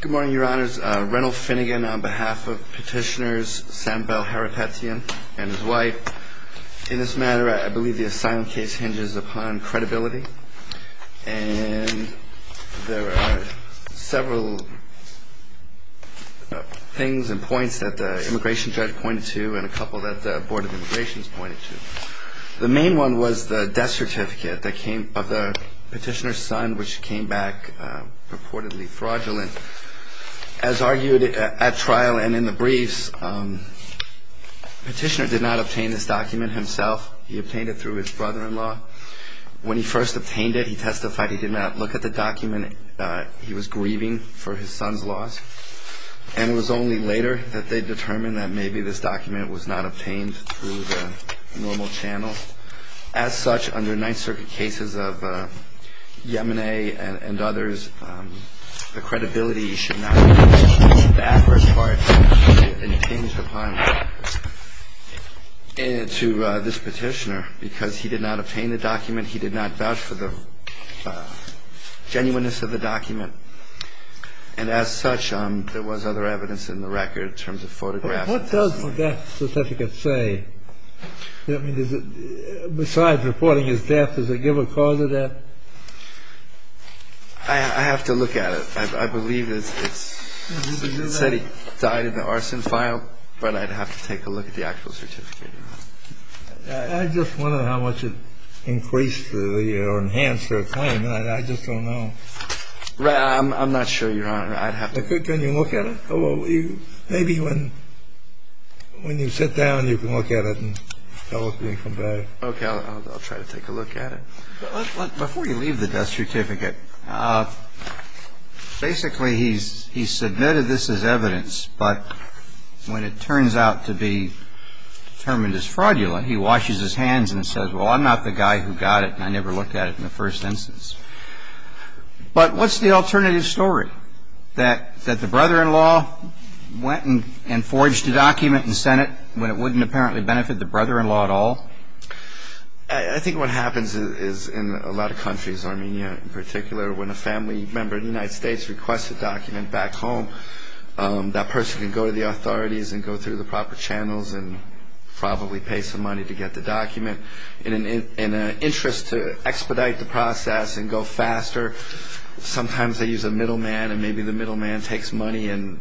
Good morning, your honors. Reynolds Finnegan on behalf of petitioners Sam Bell Harrapetyan and his wife. In this matter, I believe the asylum case hinges upon credibility. And there are several things and points that the immigration judge pointed to and a couple that the Board of Immigration pointed to. The main one was the death certificate of the petitioner's son which came back purportedly fraudulent. As argued at trial and in the briefs, the petitioner did not obtain this document himself. He obtained it through his brother-in-law. When he first obtained it, he testified he did not look at the document. He was grieving for his son's loss. And it was only later that they determined that maybe this document was not obtained through the normal channel. As such, under Ninth Circuit cases of Yemeni and others, the credibility should not be the adverse part. It hinged upon this petitioner because he did not obtain the document. He did not vouch for the genuineness of the document. And as such, there was other evidence in the record in terms of photographs. What does the death certificate say? Besides reporting his death, does it give a cause of death? I have to look at it. I believe it said he died in the arson file, but I'd have to take a look at the actual certificate. I just wonder how much it increased or enhanced their claim. I just don't know. I'm not sure, Your Honor. I'd have to look at it. Can you look at it? Maybe when you sit down, you can look at it and tell us when you come back. Okay. I'll try to take a look at it. Before you leave the death certificate, basically he submitted this as evidence, but when it turns out to be determined as fraudulent, he washes his hands and says, well, I'm not the guy who got it, and I never looked at it in the first instance. But what's the alternative story? That the brother-in-law went and forged a document and sent it when it wouldn't apparently benefit the brother-in-law at all? I think what happens is in a lot of countries, Armenia in particular, when a family member in the United States requests a document back home, that person can go to the authorities and go through the proper channels and probably pay some money to get the document. In an interest to expedite the process and go faster, sometimes they use a middleman, and maybe the middleman takes money and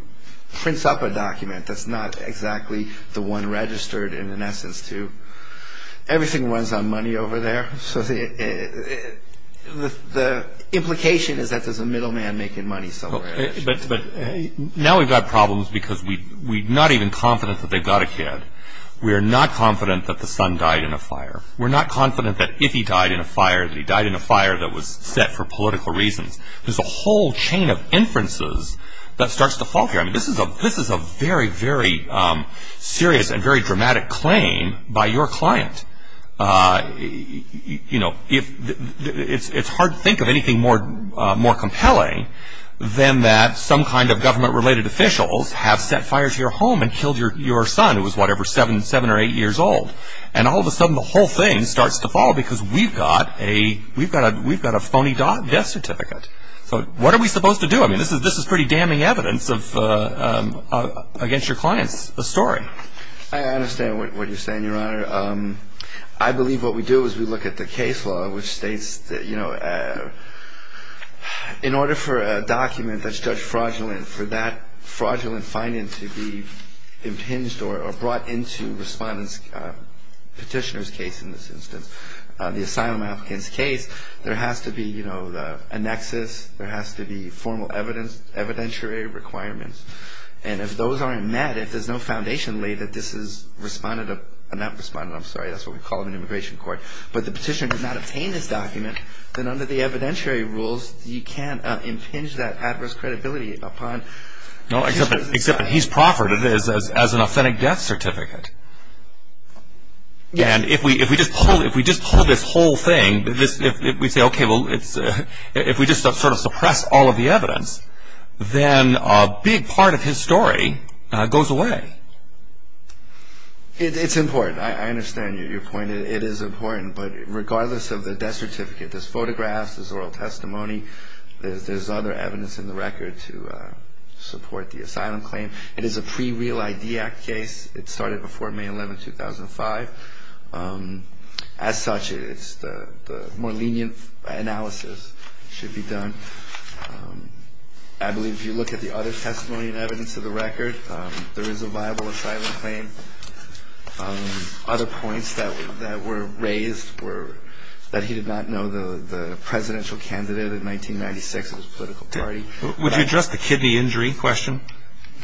prints up a document that's not exactly the one registered in an essence to. Everything runs on money over there. So the implication is that there's a middleman making money somewhere. Now we've got problems because we're not even confident that they've got a kid. We're not confident that the son died in a fire. We're not confident that if he died in a fire, that he died in a fire that was set for political reasons. There's a whole chain of inferences that starts to fall here. This is a very, very serious and very dramatic claim by your client. You know, it's hard to think of anything more compelling than that some kind of government-related officials have set fire to your home and killed your son who was, whatever, seven or eight years old. And all of a sudden, the whole thing starts to fall because we've got a phony death certificate. So what are we supposed to do? I mean, this is pretty damning evidence against your client's story. I understand what you're saying, Your Honor. I believe what we do is we look at the case law, which states that, you know, in order for a document that's judged fraudulent, for that fraudulent finding to be impinged or brought into respondent's petitioner's case in this instance, the asylum applicant's case, there has to be, you know, a nexus. There has to be formal evidentiary requirements. And if those aren't met, if there's no foundation laid that this is respondent, not respondent, I'm sorry, that's what we call it in immigration court, but the petitioner does not obtain this document, then under the evidentiary rules, you can't impinge that adverse credibility upon the petitioner. No, except that he's proffered it as an authentic death certificate. And if we just pull this whole thing, if we say, okay, well, if we just sort of suppress all of the evidence, then a big part of his story goes away. It's important. I understand your point. It is important. But regardless of the death certificate, there's photographs, there's oral testimony, there's other evidence in the record to support the asylum claim. It is a pre-Real ID Act case. It started before May 11, 2005. As such, the more lenient analysis should be done. I believe if you look at the other testimony and evidence of the record, there is a viable asylum claim. Other points that were raised were that he did not know the presidential candidate in 1996 of his political party. Would you address the kidney injury question?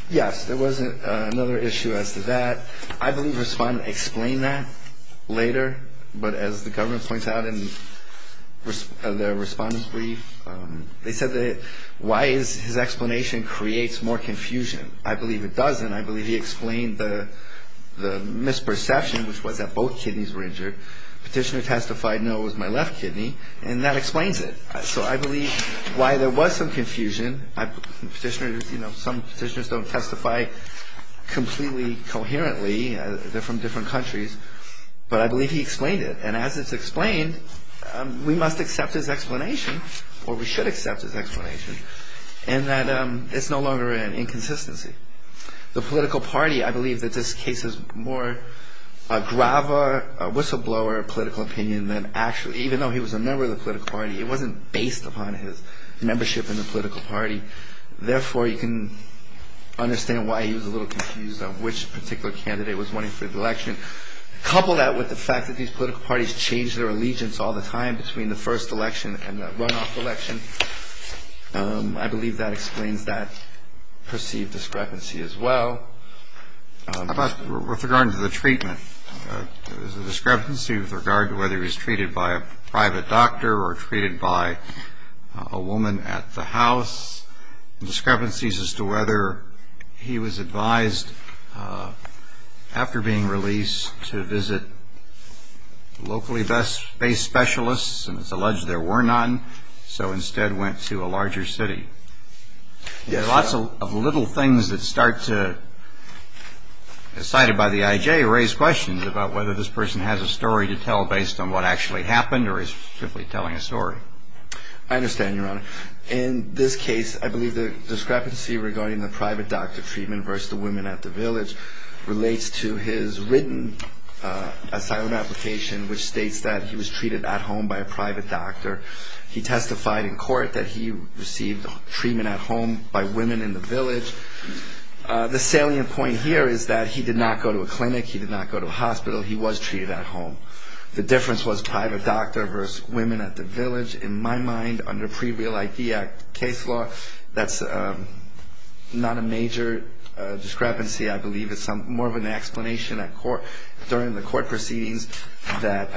Yes. There was another issue as to that. I believe the respondent explained that later. But as the government points out in their respondent's brief, they said that why his explanation creates more confusion. I believe it doesn't. I believe he explained the misperception, which was that both kidneys were injured. Petitioner testified, no, it was my left kidney. And that explains it. So I believe why there was some confusion. Some petitioners don't testify completely coherently. They're from different countries. But I believe he explained it. And as it's explained, we must accept his explanation, or we should accept his explanation, in that it's no longer an inconsistency. The political party, I believe that this case is more a grava, a whistleblower political opinion than actually. Even though he was a member of the political party, it wasn't based upon his membership in the political party. Therefore, you can understand why he was a little confused on which particular candidate was running for the election. Couple that with the fact that these political parties change their allegiance all the time between the first election and the runoff election. I believe that explains that perceived discrepancy as well. With regard to the treatment, there was a discrepancy with regard to whether he was treated by a private doctor or treated by a woman at the house. And discrepancies as to whether he was advised after being released to visit locally based specialists. And it's alleged there were none. So instead went to a larger city. There are lots of little things that start to, cited by the IJ, raise questions about whether this person has a story to tell based on what actually happened or is simply telling a story. I understand, Your Honor. In this case, I believe the discrepancy regarding the private doctor treatment versus the women at the village relates to his written asylum application, which states that he was treated at home by a private doctor. He testified in court that he received treatment at home by women in the village. The salient point here is that he did not go to a clinic. He did not go to a hospital. He was treated at home. The difference was private doctor versus women at the village. In my mind, under pre-Real ID Act case law, that's not a major discrepancy. I believe it's more of an explanation during the court proceedings that,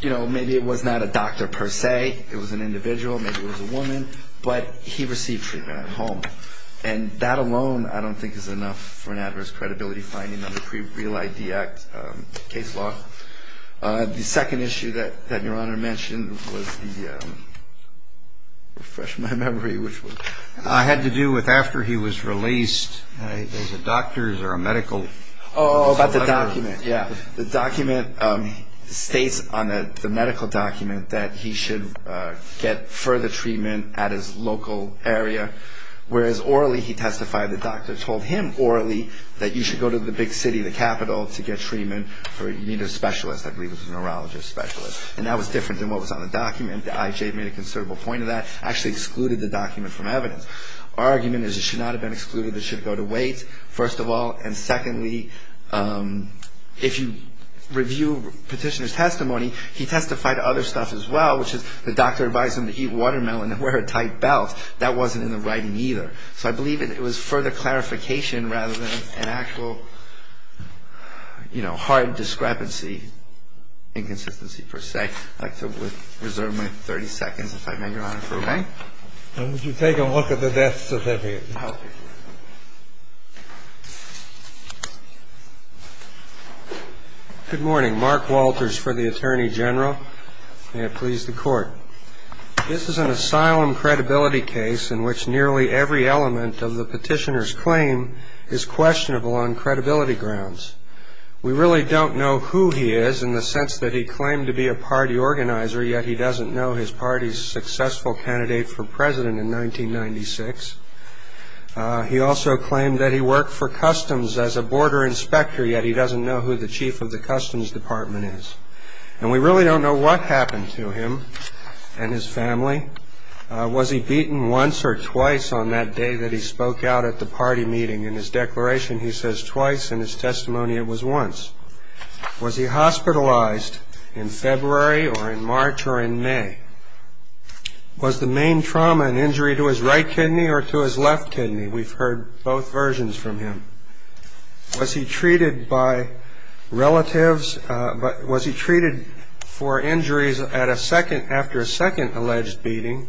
you know, maybe it was not a doctor per se. It was an individual. Maybe it was a woman. But he received treatment at home. And that alone I don't think is enough for an adverse credibility finding under pre-Real ID Act case law. The second issue that Your Honor mentioned was the ‑‑ refresh my memory, which was? It had to do with after he was released. Was it doctors or a medical? Oh, about the document, yeah. The document states on the medical document that he should get further treatment at his local area, whereas orally he testified. The doctor told him orally that you should go to the big city, the capital, to get treatment. You need a specialist. I believe it was a neurologist specialist. And that was different than what was on the document. The IJ made a considerable point of that. Actually excluded the document from evidence. Argument is it should not have been excluded. It should go to wait, first of all. And secondly, if you review petitioner's testimony, he testified to other stuff as well, which is the doctor advised him to eat watermelon and wear a tight belt. That wasn't in the writing either. So I believe it was further clarification rather than an actual, you know, hard discrepancy, inconsistency per se. I'd like to reserve my 30 seconds, if I may, Your Honor. Okay. Would you take a look at the death certificate? Okay. Good morning. May it please the Court. This is an asylum credibility case in which nearly every element of the petitioner's claim is questionable on credibility grounds. We really don't know who he is in the sense that he claimed to be a party organizer, yet he doesn't know his party's successful candidate for president in 1996. He also claimed that he worked for customs as a border inspector, yet he doesn't know who the chief of the customs department is. And we really don't know what happened to him and his family. Was he beaten once or twice on that day that he spoke out at the party meeting? In his declaration, he says twice. In his testimony, it was once. Was he hospitalized in February or in March or in May? Was the main trauma an injury to his right kidney or to his left kidney? We've heard both versions from him. Was he treated by relatives? Was he treated for injuries after a second alleged beating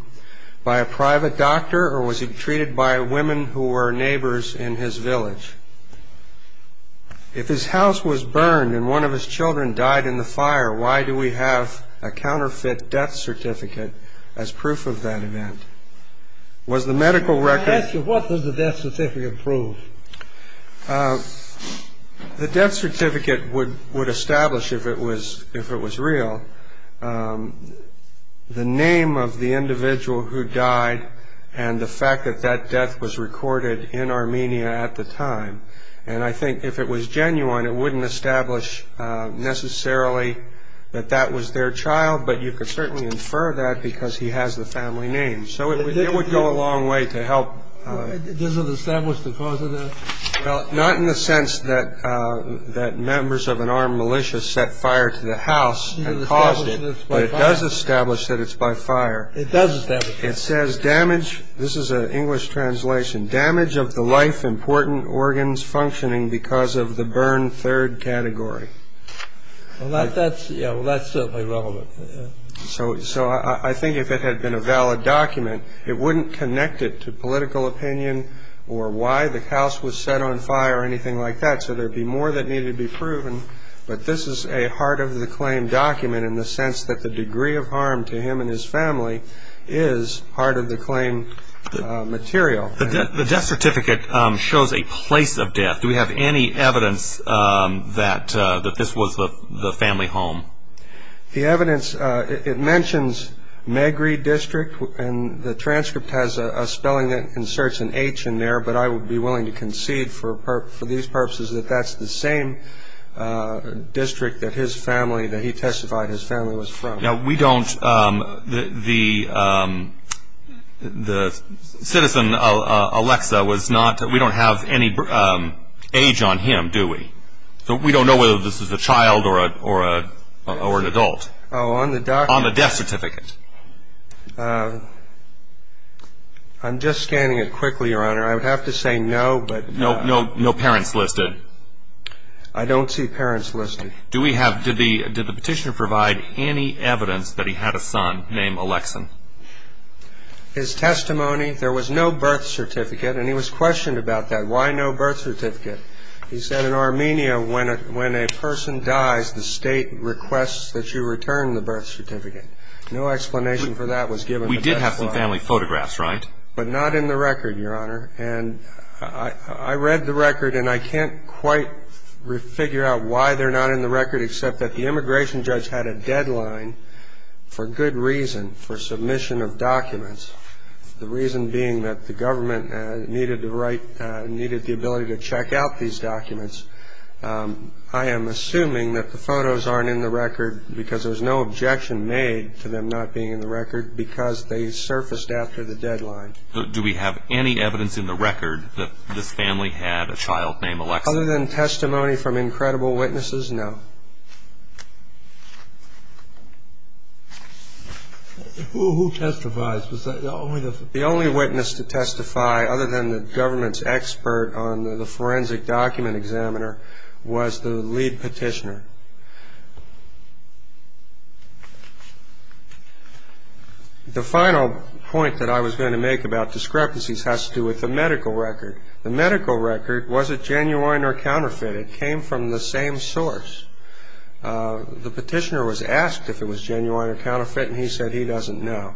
by a private doctor, or was he treated by women who were neighbors in his village? If his house was burned and one of his children died in the fire, why do we have a counterfeit death certificate as proof of that event? What does the death certificate prove? The death certificate would establish, if it was real, the name of the individual who died and the fact that that death was recorded in Armenia at the time. And I think if it was genuine, it wouldn't establish necessarily that that was their child, but you could certainly infer that because he has the family name. So it would go a long way to help. Does it establish the cause of that? Well, not in the sense that members of an armed militia set fire to the house and caused it, but it does establish that it's by fire. It does establish that. It says damage. This is an English translation. Damage of the life important organs functioning because of the burn third category. Well, that's certainly relevant. So I think if it had been a valid document, it wouldn't connect it to political opinion or why the house was set on fire or anything like that. So there would be more that needed to be proven. But this is a heart of the claim document in the sense that the degree of harm to him and his family is part of the claim material. The death certificate shows a place of death. Do we have any evidence that this was the family home? The evidence, it mentions Magri District, and the transcript has a spelling that inserts an H in there, but I would be willing to concede for these purposes that that's the same district that his family, that he testified his family was from. Now, we don't, the citizen, Alexa, was not, we don't have any age on him, do we? So we don't know whether this is a child or an adult on the death certificate. I'm just scanning it quickly, Your Honor. I would have to say no, but no, no, no parents listed. I don't see parents listed. Do we have, did the petitioner provide any evidence that he had a son named Alexa? His testimony, there was no birth certificate and he was questioned about that. Why no birth certificate? He said in Armenia when a person dies, the state requests that you return the birth certificate. No explanation for that was given. We did have some family photographs, right? But not in the record, Your Honor, and I read the record and I can't quite figure out why they're not in the record except that the immigration judge had a deadline for good reason, for submission of documents, the reason being that the government needed the right, needed the ability to check out these documents. I am assuming that the photos aren't in the record because there's no objection made to them not being in the record because they surfaced after the deadline. Do we have any evidence in the record that this family had a child named Alexa? Other than testimony from incredible witnesses, no. Who testifies? The only witness to testify other than the government's expert on the forensic document examiner was the lead petitioner. The final point that I was going to make about discrepancies has to do with the medical record. The medical record, was it genuine or counterfeit? It came from the same source. The petitioner was asked if it was genuine or counterfeit and he said he doesn't know.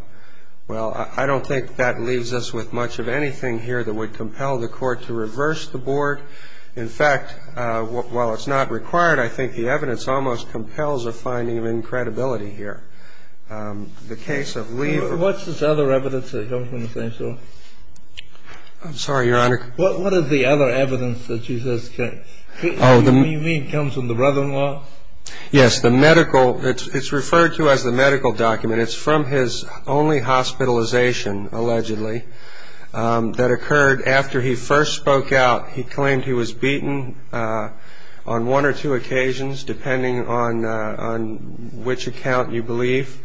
Well, I don't think that leaves us with much of anything here that would compel the court to reverse the board. In fact, while it's not required, I think the evidence almost compels a finding of incredibility here. The case of Lee… What's this other evidence that comes from the same source? I'm sorry, Your Honor. What is the other evidence that you mean comes from the brother-in-law? Yes, it's referred to as the medical document. It's from his only hospitalization, allegedly, that occurred after he first spoke out. He claimed he was beaten on one or two occasions, depending on which account you believe,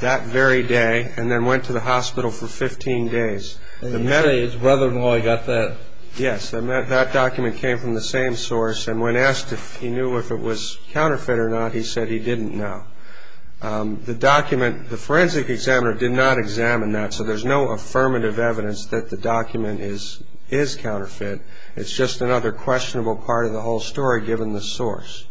that very day, and then went to the hospital for 15 days. And you say his brother-in-law got that? Yes. That document came from the same source, and when asked if he knew if it was counterfeit or not, he said he didn't know. The document, the forensic examiner did not examine that, so there's no affirmative evidence that the document is counterfeit. It's just another questionable part of the whole story, given the source.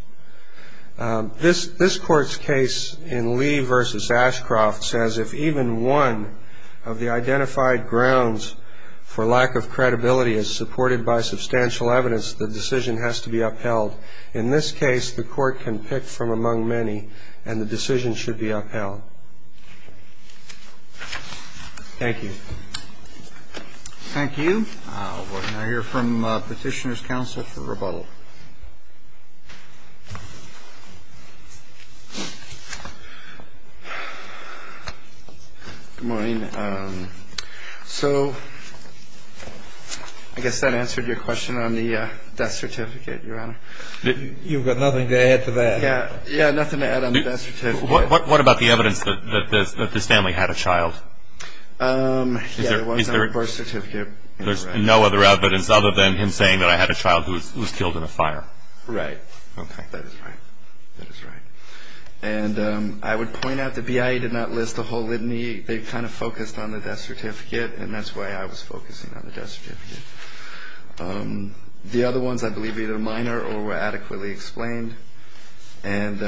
This Court's case in Lee v. Ashcroft says if even one of the identified grounds for lack of credibility is supported by substantial evidence, the decision has to be upheld. In this case, the Court can pick from among many, and the decision should be upheld. Thank you. Thank you. We'll now hear from Petitioner's Counsel for rebuttal. Good morning. So I guess that answered your question on the death certificate, Your Honor. You've got nothing to add to that. Yeah, nothing to add on the death certificate. What about the evidence that the Stanley had a child? Yeah, it was on the birth certificate. There's no other evidence other than him saying that I had a child who was killed in a car accident. Right. Okay, that is right. That is right. And I would point out the BIA did not list the whole litany. They kind of focused on the death certificate, and that's why I was focusing on the death certificate. The other ones I believe are either minor or were adequately explained. And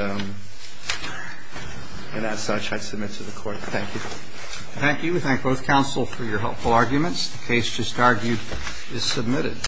as such, I submit to the Court. Thank you. Thank you. We thank both counsel for your helpful arguments. The case just argued is submitted.